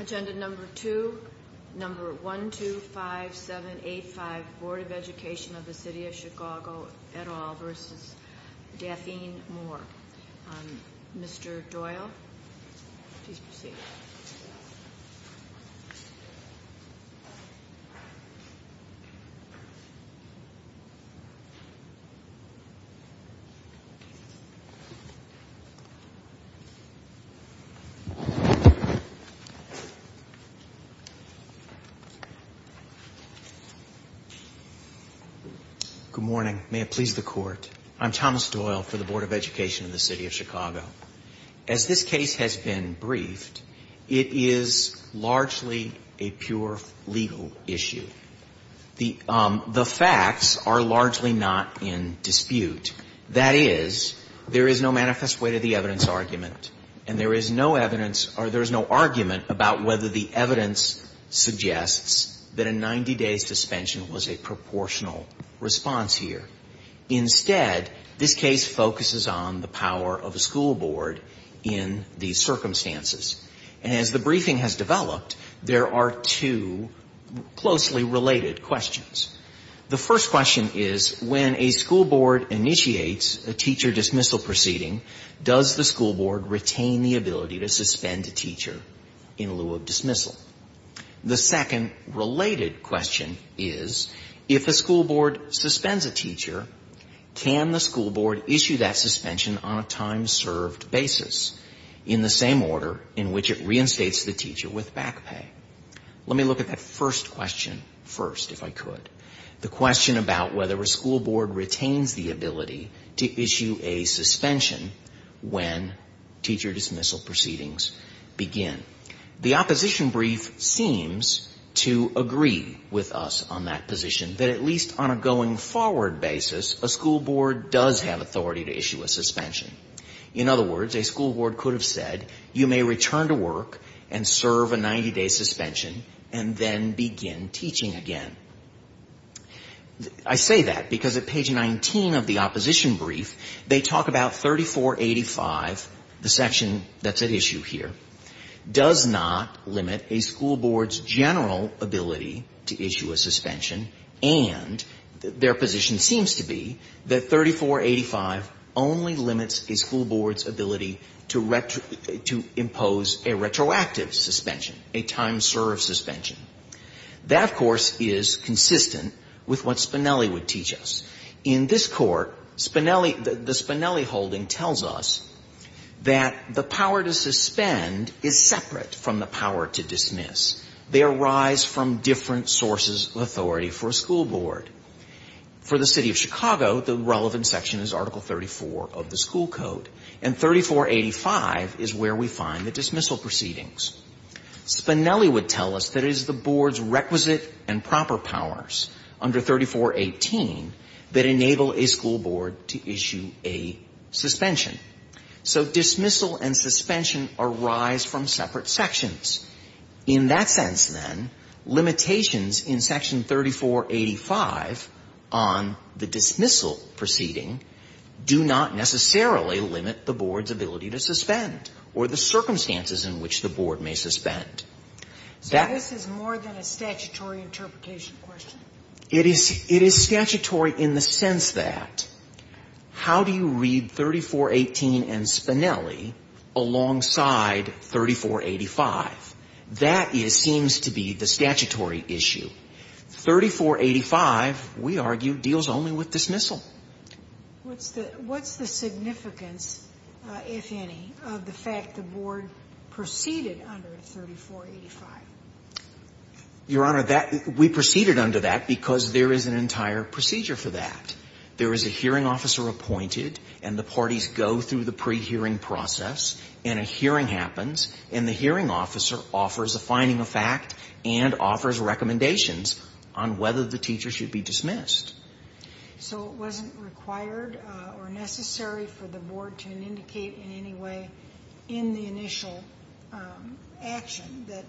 Agenda number 2, number 1, 2, 5, 7, 8, 5, Board of Education of the City of Chicago et al. v. Daphne Moore. Mr. Doyle, please proceed. Good morning. May it please the Court. I'm Thomas Doyle for the Board of Education of the City of Chicago. As this case has been briefed, it is largely a pure legal issue. The facts are largely not in dispute. That is, there is no manifest way to the evidence argument, and there is no evidence or there is no argument about whether the evidence suggests that a 90-day suspension was a proportional response here. Instead, this case focuses on the power of a school board in these circumstances. And as the briefing has developed, there are two closely related questions. The first question is, when a school board initiates a teacher dismissal proceeding, does the school board retain the ability to suspend a teacher in lieu of dismissal? The second related question is, if a school board suspends a teacher, can the school board issue that suspension on a time-served basis in the same order in which it reinstates the teacher with back pay? Let me look at that first question first, if I could. The question about whether a school board retains the ability to issue a suspension when teacher dismissal proceedings begin. The opposition brief seems to agree with us on that position, that at least on a going-forward basis, a school board does have authority to issue a suspension. In other words, a school board could have said, you may return to work and serve a 90-day suspension and then begin teaching again. I say that because at page 19 of the opposition brief, they talk about 3485, the section that's at issue here. Does not limit a school board's general ability to issue a suspension. And their position seems to be that 3485 only limits a school board's ability to impose a retroactive suspension, a time-served suspension. That, of course, is consistent with what Spinelli would teach us. In this Court, Spinelli, the Spinelli holding tells us that the power to suspend is separate from the power to dismiss. They arise from different sources of authority for a school board. For the City of Chicago, the relevant section is Article 34 of the school code. And 3485 is where we find the dismissal proceedings. Spinelli would tell us that it is the board's requisite and proper powers under 3418 that enable a school board to issue a suspension. So dismissal and suspension arise from separate sections. In that sense, then, limitations in Section 3485 on the dismissal proceeding do not necessarily limit the board's ability to suspend or the circumstances in which the board may suspend. That — So this is more than a statutory interpretation question? It is statutory in the sense that how do you read 3418 and Spinelli alongside 3485? That seems to be the statutory issue. 3485, we argue, deals only with dismissal. What's the significance, if any, of the fact the board proceeded under 3485? Your Honor, that — we proceeded under that because there is an entire procedure for that. There is a hearing officer appointed, and the parties go through the pre-hearing process, and a hearing happens, and the hearing officer offers a finding of fact and offers recommendations on whether the teacher should be dismissed. So it wasn't required or necessary for the board to indicate in any way in the initial action that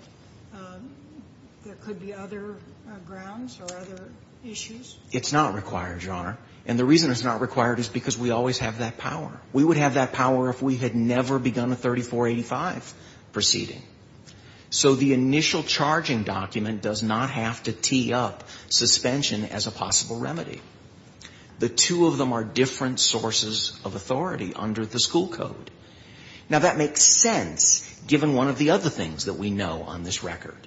there could be other grounds or other issues? It's not required, Your Honor. And the reason it's not required is because we always have that power. We would have that power if we had never begun a 3485 proceeding. So the initial charging document does not have to tee up suspension as a possible remedy. The two of them are different sources of authority under the school code. Now, that makes sense given one of the other things that we know on this record.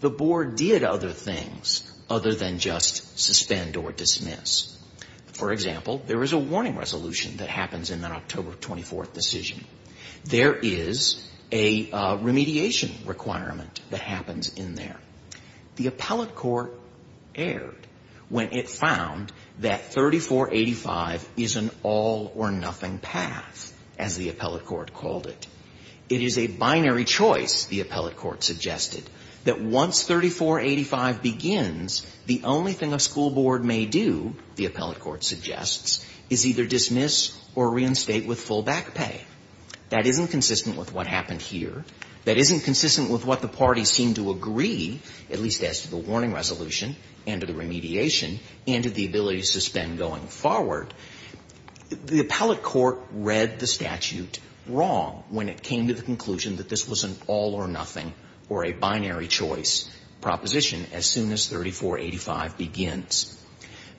The board did other things other than just suspend or dismiss. For example, there is a warning resolution that happens in that October 24th decision. There is a remediation requirement that happens in there. The appellate court erred when it found that 3485 is an all-or-nothing path, as the appellate court called it. It is a binary choice, the appellate court suggested, that once 3485 begins, the only thing a school board may do, the appellate court suggests, is either dismiss or reinstate with full back pay. That isn't consistent with what happened here. That isn't consistent with what the parties seem to agree, at least as to the warning resolution and to the remediation and to the ability to suspend going forward. The appellate court read the statute wrong when it came to the conclusion that this was an all-or-nothing or a binary choice proposition as soon as 3485 begins.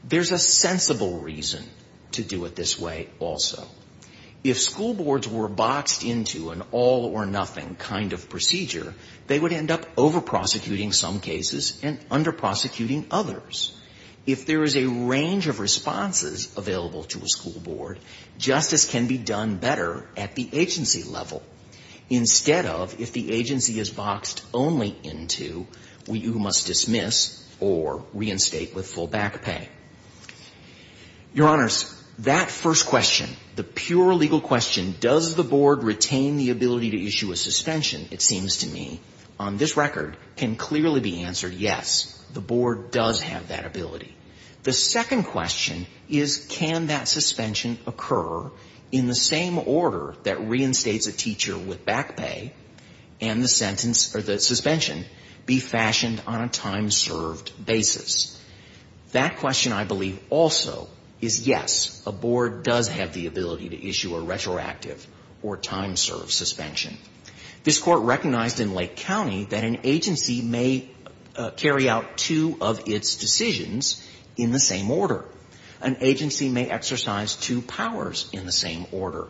There's a sensible reason to do it this way also. If school boards were boxed into an all-or-nothing kind of procedure, they would end up over-prosecuting some cases and under-prosecuting others. If there is a range of responses available to a school board, justice can be done better at the agency level. Instead of, if the agency is boxed only into, you must dismiss or reinstate with full back pay. Your Honors, that first question, the pure legal question, does the board retain the ability to issue a suspension, it seems to me, on this record, can clearly be answered yes. The board does have that ability. The second question is, can that suspension occur in the same order that reinstates a teacher with back pay and the sentence or the suspension be fashioned on a time-served basis? That question, I believe, also is yes, a board does have the ability to issue a retroactive or time-served suspension. This Court recognized in Lake County that an agency may carry out two of its decisions in the same order. An agency may exercise two powers in the same order.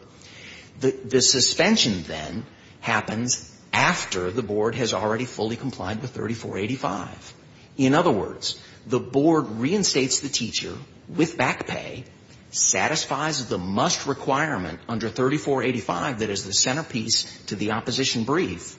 The suspension, then, happens after the board has already fully complied with 3485. In other words, the board reinstates the teacher with back pay, satisfies the must requirement under 3485 that is the centerpiece to the opposition brief,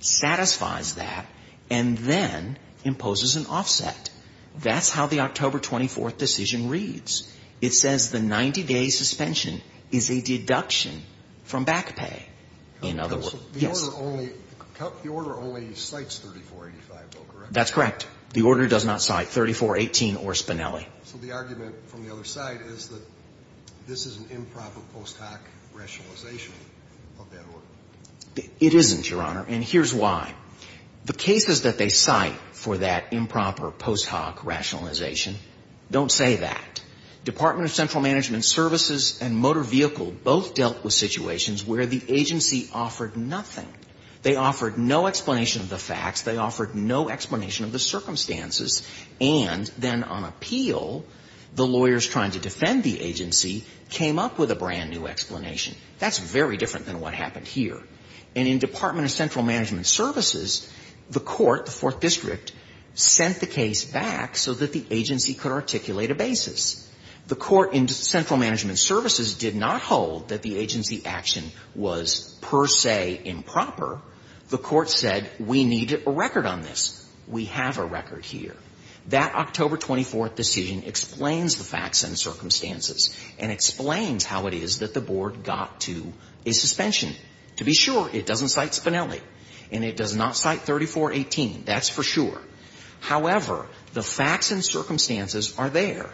satisfies that, and then imposes an offset. That's how the October 24th decision reads. It says the 90-day suspension is a deduction from back pay. In other words, yes. The order only cites 3485, though, correct? That's correct. The order does not cite 3418 or Spinelli. So the argument from the other side is that this is an improper post hoc rationalization of that order. It isn't, Your Honor, and here's why. The cases that they cite for that improper post hoc rationalization don't say that. Department of Central Management Services and Motor Vehicle both dealt with situations where the agency offered nothing. They offered no explanation of the facts. They offered no explanation of the circumstances. And then on appeal, the lawyers trying to defend the agency came up with a brand new explanation. That's very different than what happened here. And in Department of Central Management Services, the court, the Fourth District, sent the case back so that the agency could articulate a basis. The court in Central Management Services did not hold that the agency action was per se improper. However, the court said we need a record on this. We have a record here. That October 24th decision explains the facts and circumstances and explains how it is that the board got to a suspension. To be sure, it doesn't cite Spinelli and it does not cite 3418. That's for sure. However, the facts and circumstances are there.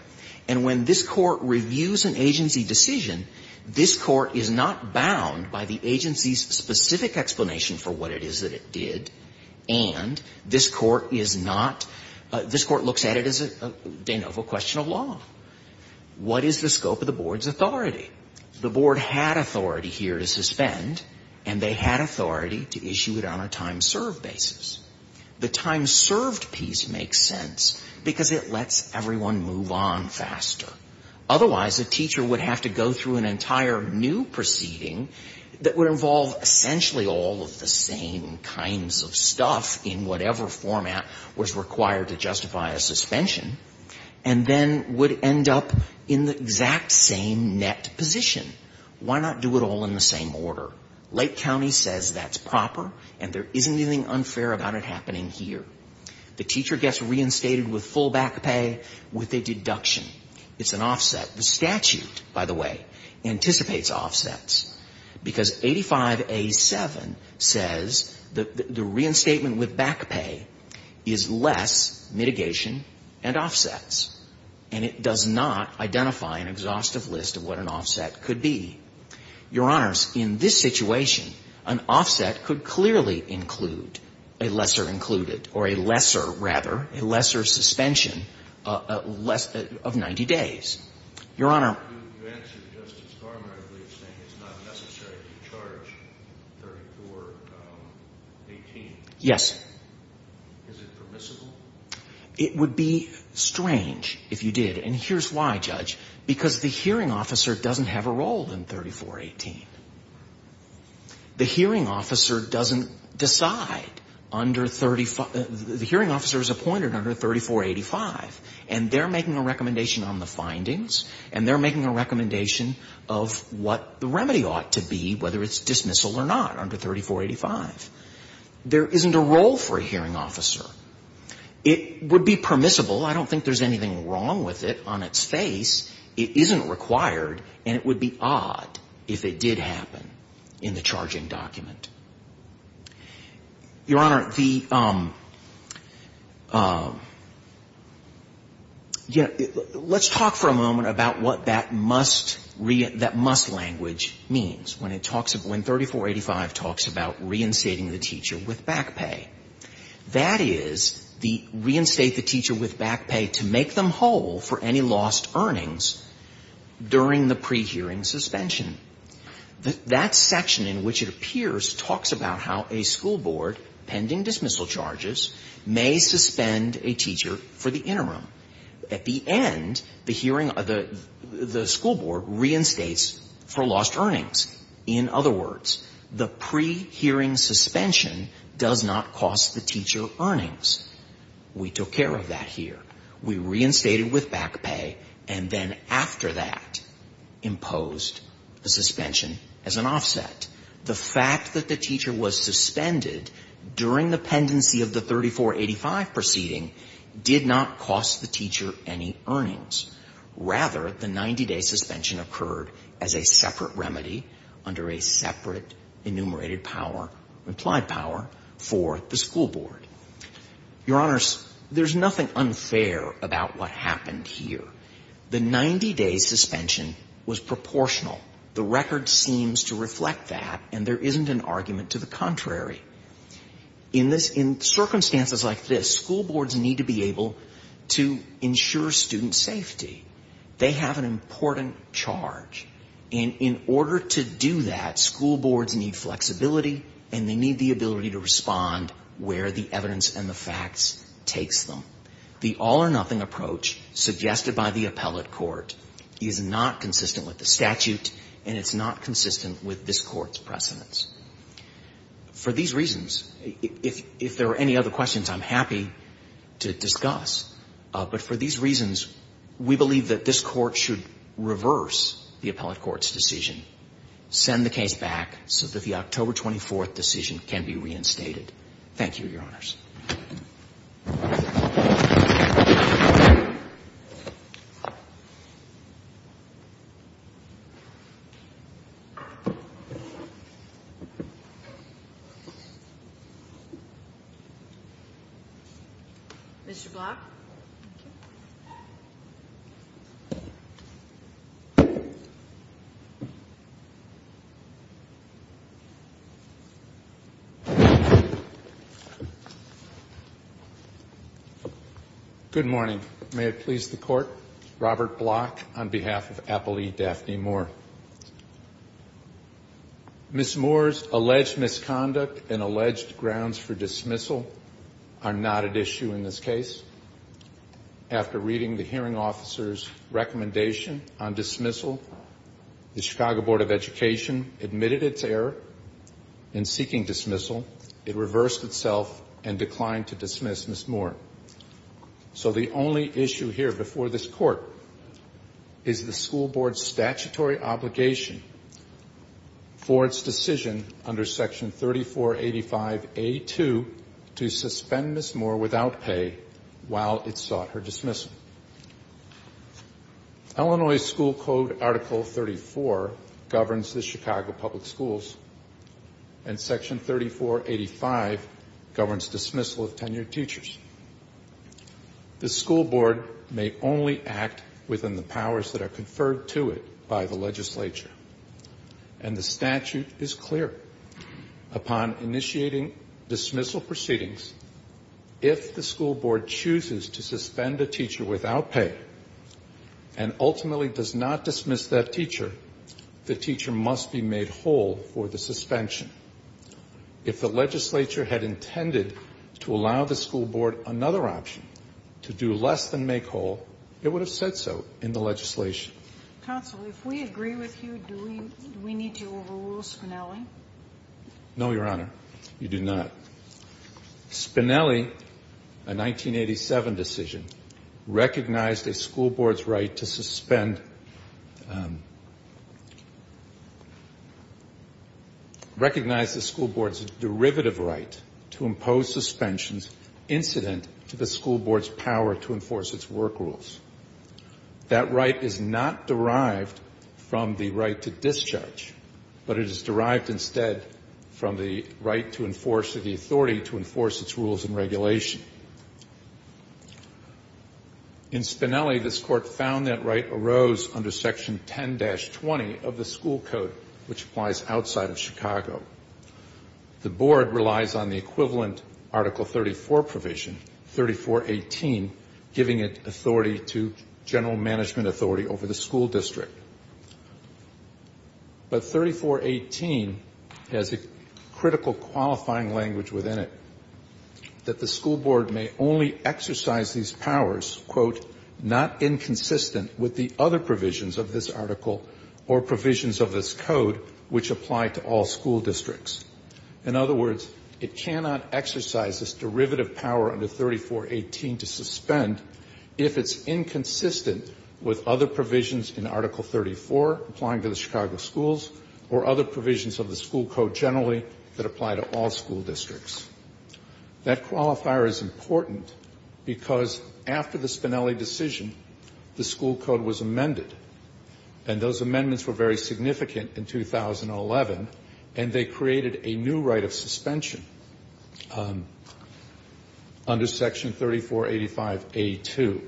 And when this Court reviews an agency decision, this Court is not bound by the agency's specific explanation for what it is that it did, and this Court is not — this Court looks at it as a de novo question of law. What is the scope of the board's authority? The board had authority here to suspend, and they had authority to issue it on a time-served basis. The time-served piece makes sense because it lets everyone move on faster. Otherwise, a teacher would have to go through an entire new proceeding that would involve essentially all of the same kinds of stuff in whatever format was required to justify a suspension, and then would end up in the exact same net position. Why not do it all in the same order? Lake County says that's proper, and there isn't anything unfair about it happening here. The teacher gets reinstated with full back pay with a deduction. It's an offset. The statute, by the way, anticipates offsets, because 85A7 says that the reinstatement with back pay is less mitigation and offsets. And it does not identify an exhaustive list of what an offset could be. Your Honors, in this situation, an offset could clearly include a lesser included or a lesser rather, a lesser suspension of 90 days. Your Honor. You answered Justice Garment, I believe, saying it's not necessary to charge 3418. Yes. Is it permissible? It would be strange if you did. And here's why, Judge. Because the hearing officer doesn't have a role in 3418. The hearing officer doesn't decide under 35. The hearing officer is appointed under 3485, and they're making a recommendation on the findings, and they're making a recommendation of what the remedy ought to be, whether it's dismissal or not, under 3485. There isn't a role for a hearing officer. It would be permissible. I don't think there's anything wrong with it on its face. It isn't required, and it would be odd if it did happen in the charging document. Your Honor, the you know, let's talk for a moment about what that must, that must language means when it talks about, when 3485 talks about reinstating the teacher with back pay. That is, the reinstate the teacher with back pay to make them whole for any lost earnings during the pre-hearing suspension. That section in which it appears talks about how a school board, pending dismissal charges, may suspend a teacher for the interim. At the end, the hearing, the school board reinstates for lost earnings. In other words, the pre-hearing suspension does not cost the teacher earnings. We took care of that here. We reinstated with back pay, and then after that imposed the suspension as an offset. The fact that the teacher was suspended during the pendency of the 3485 proceeding did not cost the teacher any earnings. Rather, the 90-day suspension occurred as a separate remedy under a separate enumerated power, implied power, for the school board. Your Honors, there's nothing unfair about what happened here. The 90-day suspension was proportional. The record seems to reflect that, and there isn't an argument to the contrary. In this, in circumstances like this, school boards need to be able to ensure student safety. They have an important charge. And in order to do that, school boards need flexibility, and they need the ability to respond where the evidence and the facts takes them. The all-or-nothing approach suggested by the appellate court is not consistent with the statute, and it's not consistent with this court's precedents. For these reasons, if there are any other questions, I'm happy to discuss. But for these reasons, we believe that this Court should reverse the appellate court's decision, send the case back so that the October 24th decision can be reinstated. Thank you, Your Honors. Mr. Block? Good morning. May it please the Court, Robert Block on behalf of Appellee Daphne Moore. Ms. Moore's alleged misconduct and alleged grounds for dismissal are not at issue in this case. After reading the hearing officer's recommendation on dismissal, the Chicago Board of Education admitted its error in seeking dismissal. It reversed itself and declined to dismiss Ms. Moore. So the only issue here before this Court is the school board's statutory obligation for its decision under Section 3485A2 to suspend Ms. Moore without pay while it sought her dismissal. Illinois School Code Article 34 governs the Chicago Public Schools, and Section 3485 governs dismissal of tenured teachers. The school board may only act within the powers that are conferred to it by the legislature, and the statute is clear. Upon initiating dismissal proceedings, if the school board chooses to suspend a teacher without pay and ultimately does not dismiss that teacher, the teacher must be made whole for the suspension. If the legislature had intended to allow the school board another option, to do less than make whole, it would have said so in the legislation. Counsel, if we agree with you, do we need to overrule Spinelli? No, Your Honor. You do not. Spinelli, a 1987 decision, recognized a school board's right to suspend, recognized the school board's derivative right to impose suspensions incident to the school board's power to enforce its work rules. That right is not derived from the right to discharge, but it is derived instead from the right to enforce the authority to enforce its rules and regulation. In Spinelli, this Court found that right arose under Section 10-20 of the school code, which applies outside of Chicago. The board relies on the equivalent Article 34 provision, 3418, giving it authority to general management authority over the school district. But 3418 has a critical qualifying language within it, that the school board may only exercise these powers, quote, not inconsistent with the other provisions of this article or provisions of this code which apply to all school districts. In other words, it cannot exercise this derivative power under 3418 to suspend if it's inconsistent with other provisions in Article 34 applying to the Chicago schools or other provisions of the school code generally that apply to all school districts. That qualifier is important because after the Spinelli decision, the school code was amended, and those amendments were very significant in 2011, and they created a new right of suspension under Section 3485A2.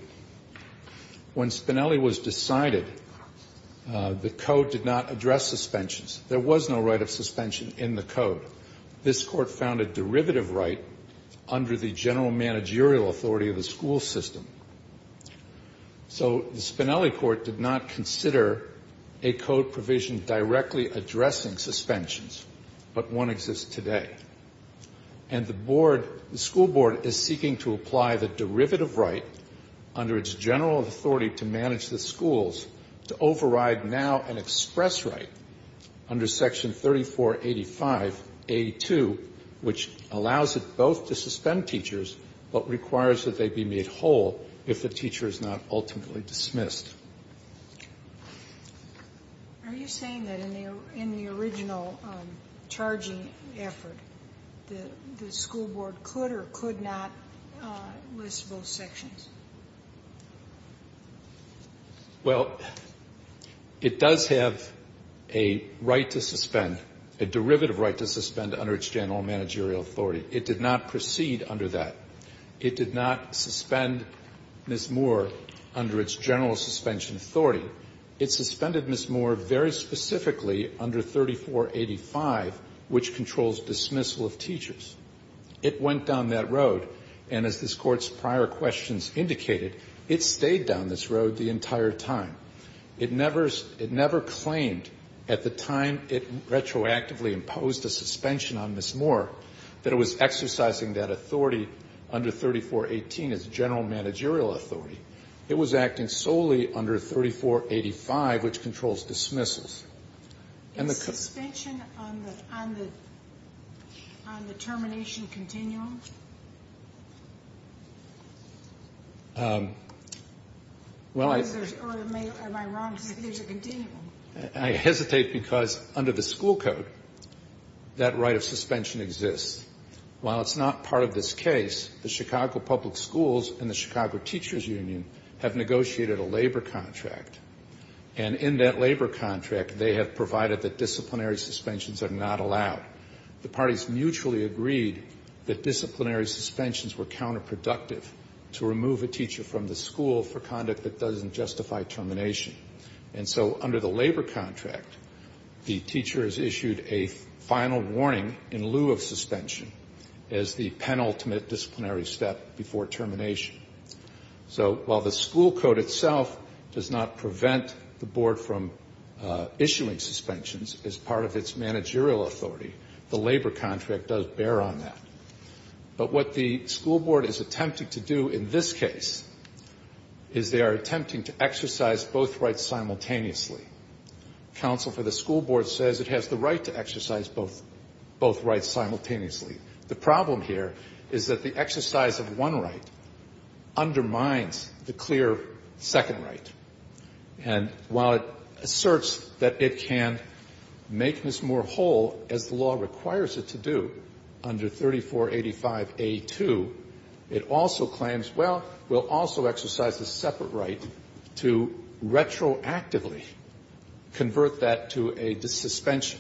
When Spinelli was decided, the code did not address suspensions. There was no right of suspension in the code. This Court found a derivative right under the general managerial authority of the school system. So the Spinelli court did not consider a code provision directly addressing suspensions, but one exists today. And the board, the school board is seeking to apply the derivative right under its general authority to manage the schools to override now an express right under Section 3485A2, which allows it both to suspend teachers, but requires that they be made whole if the teacher is not ultimately dismissed. Are you saying that in the original charging effort, the school board could or could not list both sections? Well, it does have a right to suspend, a derivative right to suspend under its general managerial authority. It did not proceed under that. It did not suspend Ms. Moore under its general suspension authority. It suspended Ms. Moore very specifically under 3485, which controls dismissal of teachers. It went down that road, and as this Court's prior questions indicated, it stayed down this road the entire time. It never claimed at the time it retroactively imposed a suspension on Ms. Moore that it was exercising that authority under 3418 as general managerial authority. It was acting solely under 3485, which controls dismissals. Is suspension on the termination continuum? Well, I hesitate because under the school code, that right of suspension exists. While it's not part of this case, the Chicago Public Schools and the Chicago Teachers Union have negotiated a labor contract, and in that labor contract, they have provided that disciplinary suspensions are not allowed. The parties mutually agreed that disciplinary suspensions were counterproductive to remove a teacher from the school for conduct that doesn't justify termination. And so under the labor contract, the teacher is issued a final warning in lieu of suspension as the penultimate disciplinary step before termination. So while the school code itself does not prevent the board from issuing suspensions as part of its managerial authority, the labor contract does bear on that. But what the school board is attempting to do in this case is they are attempting to exercise both rights simultaneously. Counsel for the school board says it has the right to exercise both rights simultaneously. The problem here is that the exercise of one right undermines the clear second right. And while it asserts that it can make this more whole, as the law requires it to do, under 3485A2, it also claims, well, we'll also exercise a separate right to retroactively convert that to a suspension.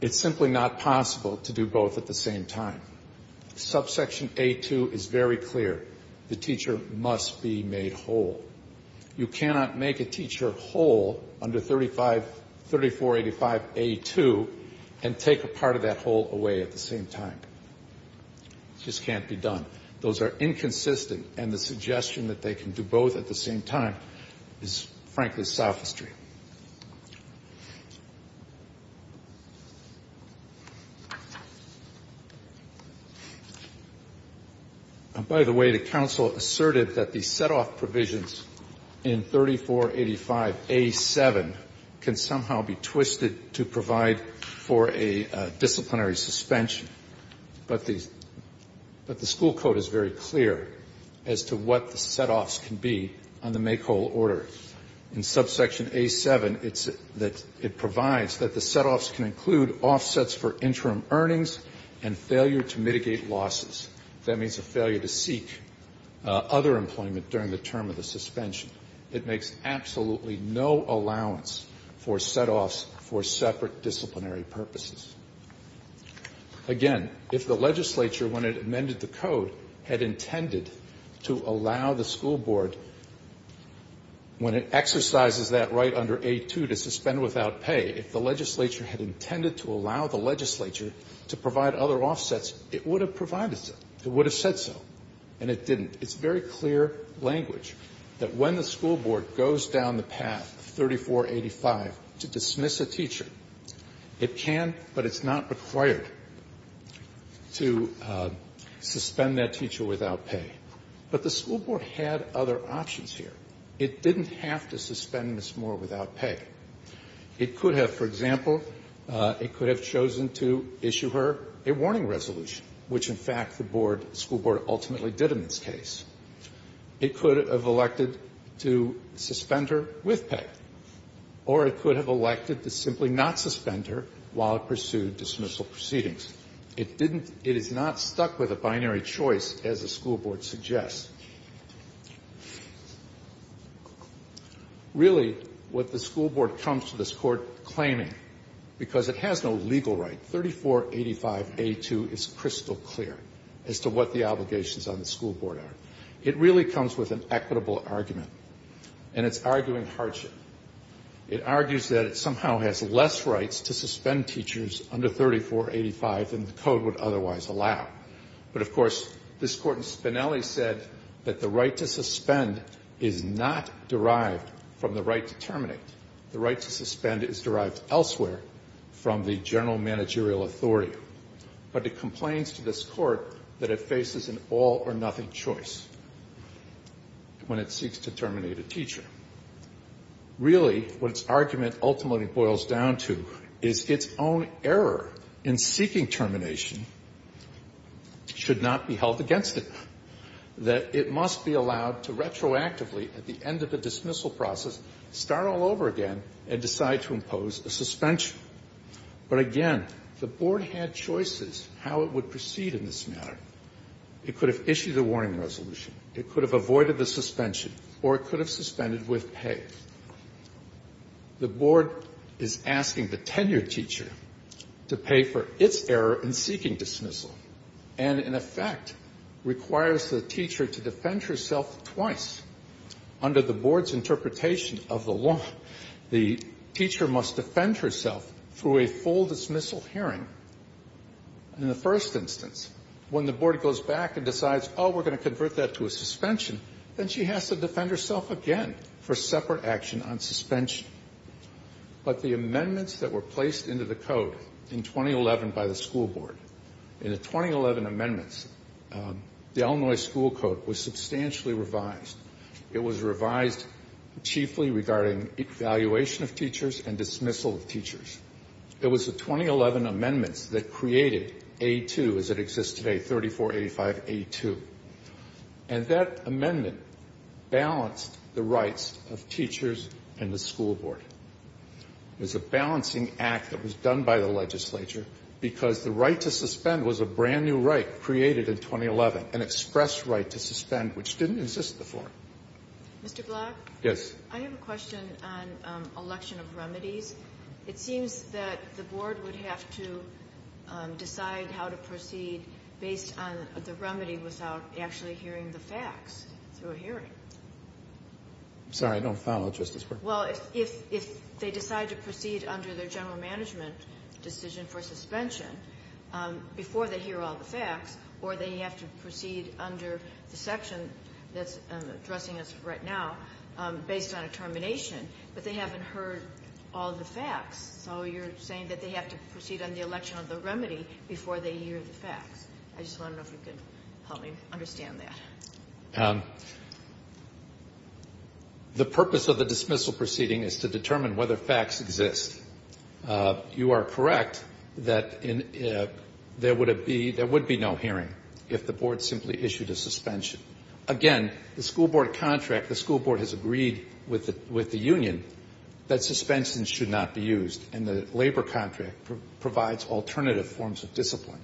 It's simply not possible to do both at the same time. Subsection A2 is very clear. The teacher must be made whole. You cannot make a teacher whole under 3485A2 and take a part of that whole away at the same time. It just can't be done. Those are inconsistent, and the suggestion that they can do both at the same time is, frankly, sophistry. By the way, the counsel asserted that the setoff provisions in 3485A7 can somehow be twisted to provide for a disciplinary suspension. But the school code is very clear as to what the setoffs can be on the make whole order. In subsection A7, it provides that the setoffs can include offsets for interim earnings and failure to mitigate losses. That means a failure to seek other employment during the term of the suspension. It makes absolutely no allowance for setoffs for separate disciplinary purposes. Again, if the legislature, when it amended the code, had intended to allow the school board, when it exercises that right under A2 to suspend without pay, if the legislature had intended to allow the legislature to provide other offsets, it would have provided it. It would have said so. And it didn't. It's very clear language that when the school board goes down the path of 3485 to dismiss a teacher, it can, but it's not required to suspend that teacher without pay. But the school board had other options here. It didn't have to suspend Miss Moore without pay. It could have, for example, it could have chosen to issue her a warning resolution, which, in fact, the school board ultimately did in this case. It could have elected to suspend her with pay. Or it could have elected to simply not suspend her while it pursued dismissal proceedings. It is not stuck with a binary choice, as the school board suggests. Really, what the school board comes to this court claiming, because it has no legal right, 3485A2 is crystal clear as to what the obligations on the school board are. It really comes with an equitable argument. And it's arguing hardship. It argues that it somehow has less rights to suspend teachers under 3485 than the code would otherwise allow. But, of course, this court in Spinelli said that the right to suspend is not derived from the right to terminate. The right to suspend is derived elsewhere from the general managerial authority. But it complains to this court that it faces an all-or-nothing choice when it seeks to terminate a teacher. Really, what its argument ultimately boils down to is its own error in seeking termination should not be held against it. That it must be allowed to retroactively, at the end of the dismissal process, start all over again and decide to impose a suspension. But, again, the board had choices how it would proceed in this matter. It could have issued a warning resolution. It could have avoided the suspension. Or it could have suspended with pay. The board is asking the tenured teacher to pay for its error in seeking dismissal and, in effect, requires the teacher to defend herself twice. Under the board's interpretation of the law, the teacher must defend herself through a full dismissal hearing in the first instance. When the board goes back and decides, oh, we're going to convert that to a suspension, then she has to defend herself again for separate action on suspension. But the amendments that were placed into the code in 2011 by the school board, in the 2011 amendments, the Illinois school code was substantially revised. It was revised chiefly regarding evaluation of teachers and dismissal of teachers. It was the 2011 amendments that created A2 as it exists today, 3485A2. And that amendment balanced the rights of teachers and the school board. It was a balancing act that was done by the legislature because the right to suspend was a brand-new right created in 2011, an express right to suspend, which didn't exist before. Ginsburg. Yes. I have a question on election of remedies. It seems that the board would have to decide how to proceed based on the remedy without actually hearing the facts through a hearing. I'm sorry. I don't follow, Justice Breyer. Well, if they decide to proceed under their general management decision for suspension before they hear all the facts, or they have to proceed under the section that's addressing us right now based on a termination, but they haven't heard all the facts, so you're saying that they have to proceed on the election of the remedy before they hear the facts. I just wonder if you could help me understand that. The purpose of the dismissal proceeding is to determine whether facts exist. You are correct that there would be no hearing if the board simply issued a suspension. Again, the school board contract, the school board has agreed with the union that suspensions should not be used, and the labor contract provides alternative forms of discipline.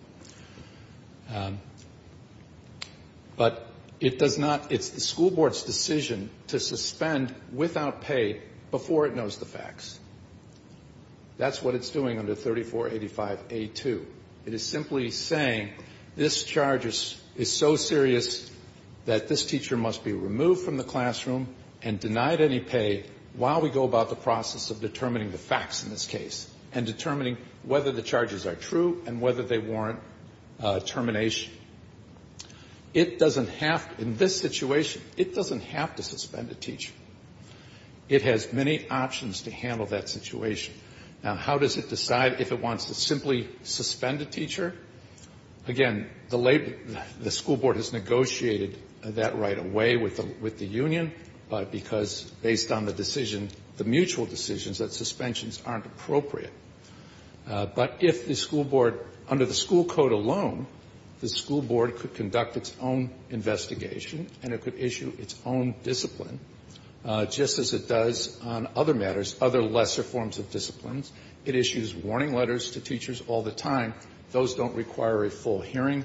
But it does not, it's the school board's decision to suspend without pay before it knows the facts. That's what it's doing under 3485A2. It is simply saying this charge is so serious that this teacher must be removed from the classroom and denied any pay while we go about the process of determining the facts in this case and determining whether the charges are true and whether they warrant termination. It doesn't have, in this situation, it doesn't have to suspend a teacher. It has many options to handle that situation. Now, how does it decide if it wants to simply suspend a teacher? Again, the school board has negotiated that right away with the union, but because based on the decision, the mutual decisions, that suspensions aren't appropriate. But if the school board, under the school code alone, the school board could conduct its own investigation and it could issue its own discipline, just as it does on other matters, other lesser forms of disciplines. It issues warning letters to teachers all the time. Those don't require a full hearing.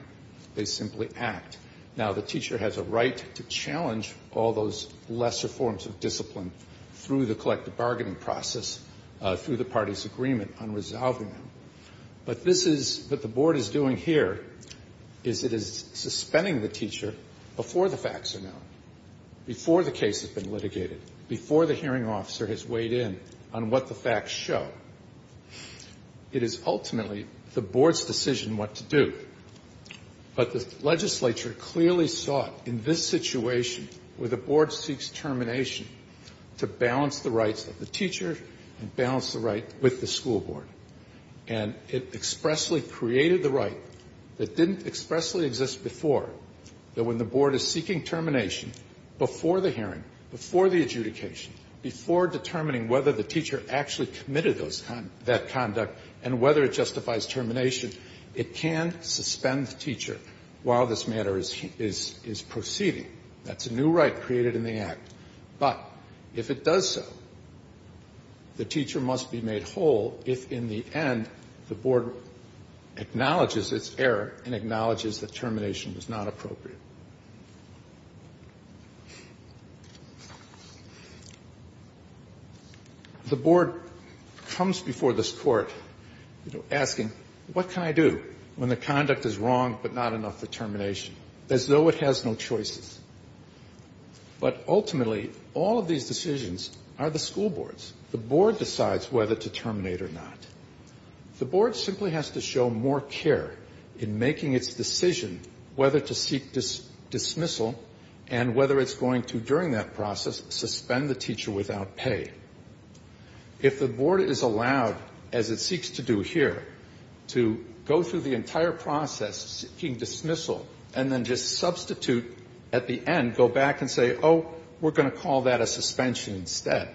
They simply act. Now, the teacher has a right to challenge all those lesser forms of discipline through the collective bargaining process, through the party's agreement on resolving them. But this is, what the board is doing here is it is suspending the teacher before the facts are known, before the case has been litigated, before the hearing officer has weighed in on what the facts show. It is ultimately the board's decision what to do. But the legislature clearly saw it in this situation where the board seeks termination to balance the rights of the teacher and balance the right with the school board. And it expressly created the right that didn't expressly exist before, that when the board is seeking termination before the hearing, before the adjudication, before determining whether the teacher actually committed that conduct and whether it justifies termination, it can suspend the teacher while this matter is proceeding. That's a new right created in the Act. But if it does so, the teacher must be made whole if in the end the board acknowledges its error and acknowledges that termination was not appropriate. The board comes before this Court, you know, asking, what can I do when the conduct is wrong but not enough for termination, as though it has no choices? But ultimately, all of these decisions are the school board's. The board decides whether to terminate or not. The board simply has to show more care in making its decision whether to seek termination versus dismissal and whether it's going to, during that process, suspend the teacher without pay. If the board is allowed, as it seeks to do here, to go through the entire process seeking dismissal and then just substitute at the end, go back and say, oh, we're going to call that a suspension instead,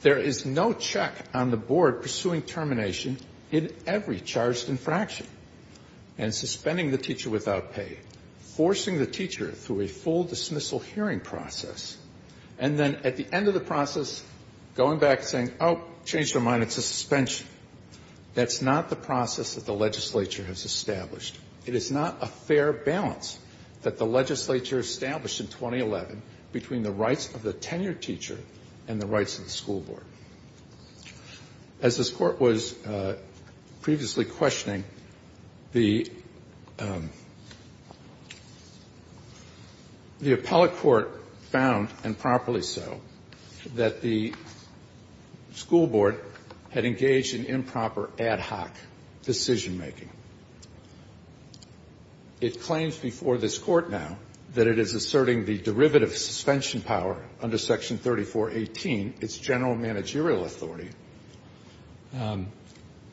there is no check on the board pursuing termination in every charged infraction and suspending the teacher without pay, forcing the teacher through a full dismissal hearing process, and then at the end of the process going back and saying, oh, change your mind, it's a suspension, that's not the process that the legislature has established. It is not a fair balance that the legislature established in 2011 between the rights of the tenured teacher and the rights of the school board. As this Court was previously questioning, the appellate court found, and properly so, that the school board had engaged in improper ad hoc decision-making. It claims before this Court now that it is asserting the derivative suspension power under Section 3418, its general managerial authority,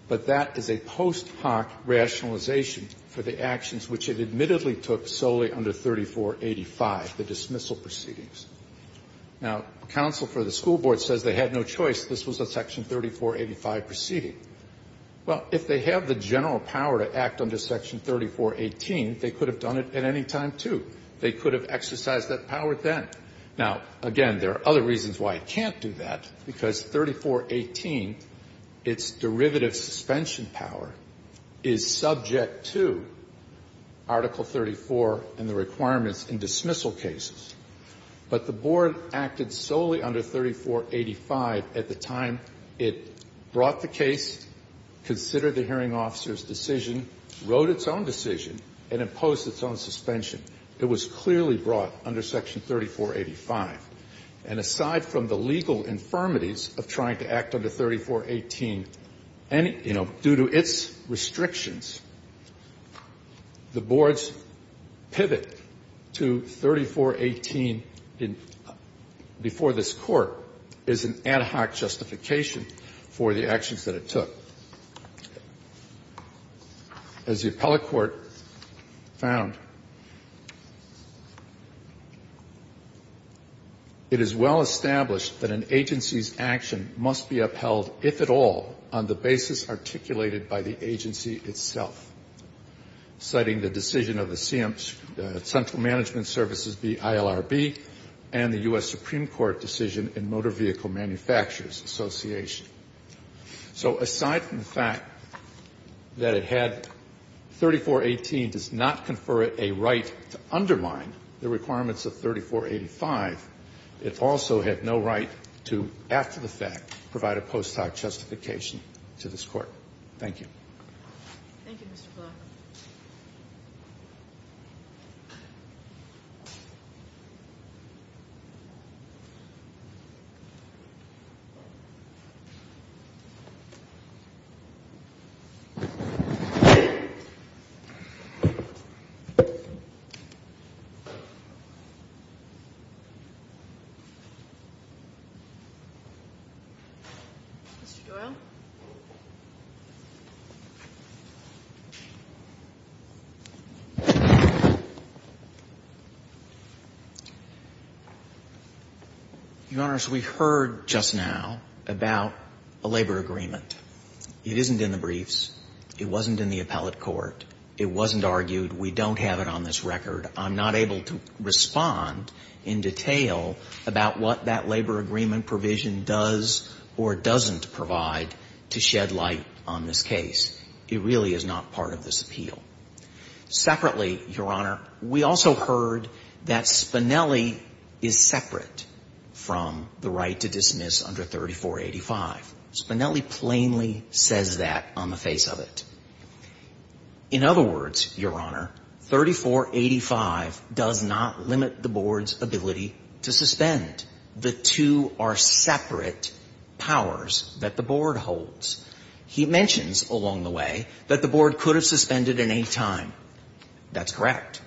but that is a post hoc rationalization for the actions which it admittedly took solely under 3485, the dismissal proceedings. Now, counsel for the school board says they had no choice, this was a Section 3485 proceeding. Well, if they have the general power to act under Section 3418, they could have done it at any time, too. They could have exercised that power then. Now, again, there are other reasons why it can't do that, because 3418, its derivative suspension power, is subject to Article 34 and the requirements in dismissal cases. But the board acted solely under 3485 at the time it brought the case, considered the hearing officer's decision, wrote its own decision, and imposed its own suspension. It was clearly brought under Section 3485. And aside from the legal infirmities of trying to act under 3418, and, you know, due to its restrictions, the board's pivot to 3418 before this Court is an ad hoc justification for the actions that it took. As the appellate court found, it is well established that an agency's action must be upheld, if at all, on the basis articulated by the agency itself, citing the decision of the Central Management Services, the ILRB, and the U.S. Supreme Court decision in Motor Vehicle Manufacturers Association. So aside from the fact that it had 3418 does not confer a right to undermine the requirements of 3485, it also had no right to, after the fact, provide a post-hoc justification to this Court. Thank you. Thank you, Mr. Block. Mr. Doyle? Your Honors, we heard just now about a labor agreement. It isn't in the briefs. It wasn't in the appellate court. It wasn't argued. We don't have it on this record. I'm not able to respond in detail about what that labor agreement provision does or doesn't provide to shed light on this case. It really is not part of this appeal. Separately, Your Honor, we also heard that Spinelli is separate from the right to dismiss under 3485. Spinelli plainly says that on the face of it. In other words, Your Honor, 3485 does not limit the Board's ability to suspend. The two are separate powers that the Board holds. He mentions along the way that the Board could have suspended at any time. That's correct.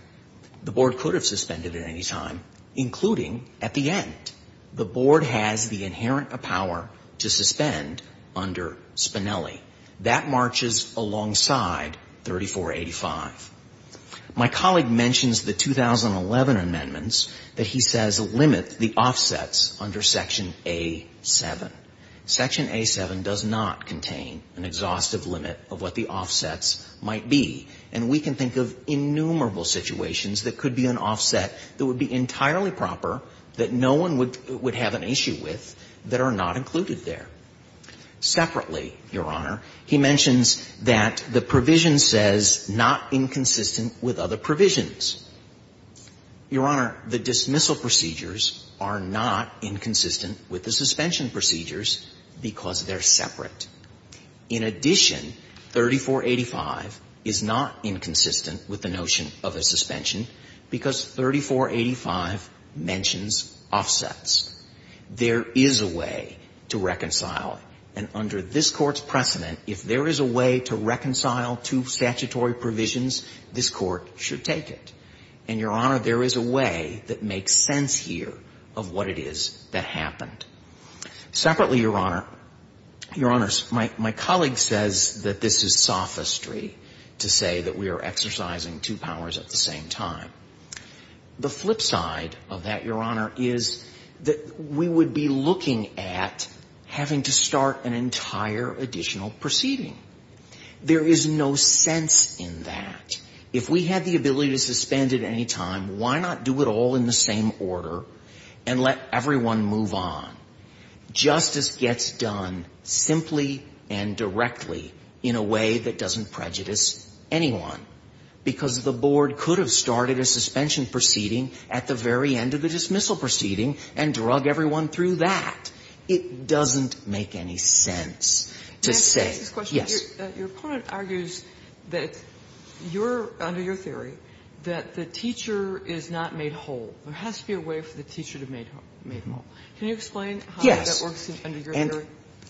The Board could have suspended at any time, including at the end. The Board has the inherent power to suspend under Spinelli. That marches alongside 3485. My colleague mentions the 2011 amendments that he says limit the offsets under Section A-7. Section A-7 does not contain an exhaustive limit of what the offsets might be. And we can think of innumerable situations that could be an offset that would be entirely proper that no one would have an issue with that are not included there. Separately, Your Honor, he mentions that the provision says not inconsistent with other provisions. Your Honor, the dismissal procedures are not inconsistent with the suspension procedures because they're separate. In addition, 3485 is not inconsistent with the notion of a suspension because 3485 mentions offsets. There is a way to reconcile. And under this Court's precedent, if there is a way to reconcile two statutory provisions, this Court should take it. And, Your Honor, there is a way that makes sense here of what it is that happened. Separately, Your Honor, Your Honors, my colleague says that this is sophistry to say that we are exercising two powers at the same time. The flip side of that, Your Honor, is that we would be looking at having to start an entire additional proceeding. There is no sense in that. If we had the ability to suspend at any time, why not do it all in the same order and let everyone move on? Justice gets done simply and directly in a way that doesn't prejudice anyone, because the board could have started a suspension proceeding at the very end of the dismissal proceeding and drug everyone through that. It doesn't make any sense to say yes. Your opponent argues that your under your theory that the teacher is not made whole. There has to be a way for the teacher to be made whole. Can you explain how that works under your theory?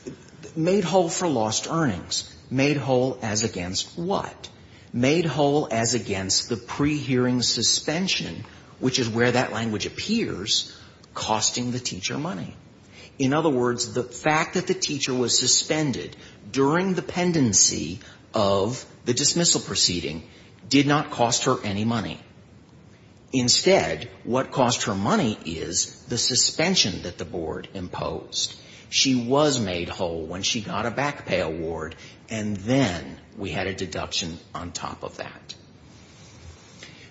Yes. Made whole for lost earnings. Made whole as against what? Made whole as against the pre-hearing suspension, which is where that language appears, costing the teacher money. In other words, the fact that the teacher was suspended during the pendency of the dismissal proceeding did not cost her any money. Instead, what cost her money is the suspension that the board imposed. She was made whole when she got a back pay award, and then we had a deduction on top of that.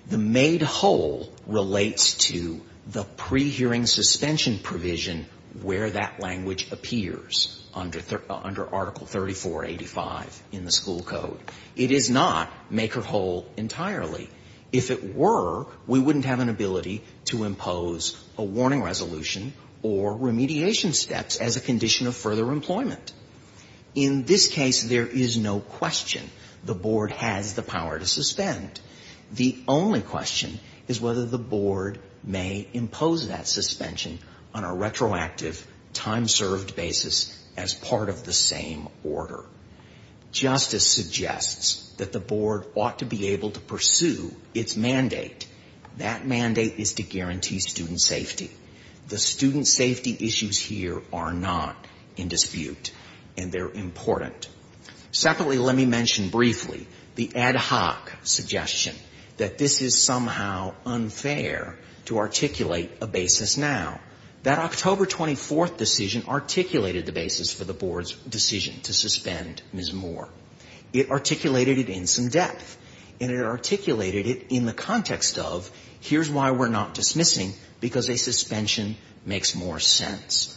The made whole relates to the pre-hearing suspension provision where that language appears under Article 3485 in the school code. It is not make her whole entirely. If it were, we wouldn't have an ability to impose a warning resolution or remediation steps as a condition of further employment. In this case, there is no question the board has the power to suspend. The only question is whether the board may impose that suspension on a retroactive, time-served basis as part of the same order. Justice suggests that the board ought to be able to pursue its mandate. That mandate is to guarantee student safety. The student safety issues here are not in dispute, and they're important. Separately, let me mention briefly the ad hoc suggestion that this is somehow unfair to articulate a basis now. That October 24th decision articulated the basis for the board's decision to suspend Ms. Moore. It articulated it in some depth, and it articulated it in the context of, Here's why we're not dismissing, because a suspension makes more sense.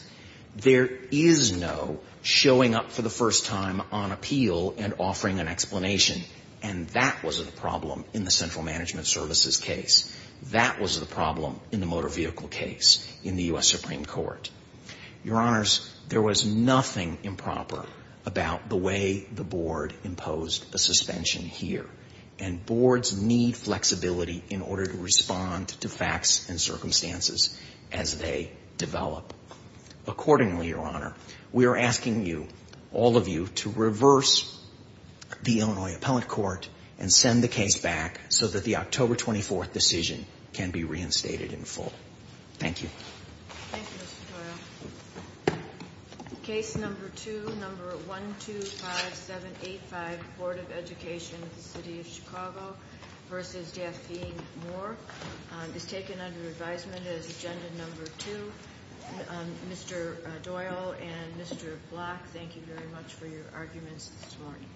There is no showing up for the first time on appeal and offering an explanation, and that was the problem in the Central Management Services case. That was the problem in the motor vehicle case in the U.S. Supreme Court. Your Honors, there was nothing improper about the way the board imposed a suspension here, and boards need flexibility in order to respond to facts and circumstances as they develop. Accordingly, Your Honor, we are asking you, all of you, to reverse the Illinois Appellate Court and send the case back so that the October 24th decision can be reinstated in full. Thank you. Thank you, Mr. Doyle. Case number two, number 125785, Board of Education, City of Chicago, versus Daphne Moore is taken under advisement as agenda number two. Mr. Doyle and Mr. Block, thank you very much for your arguments this morning.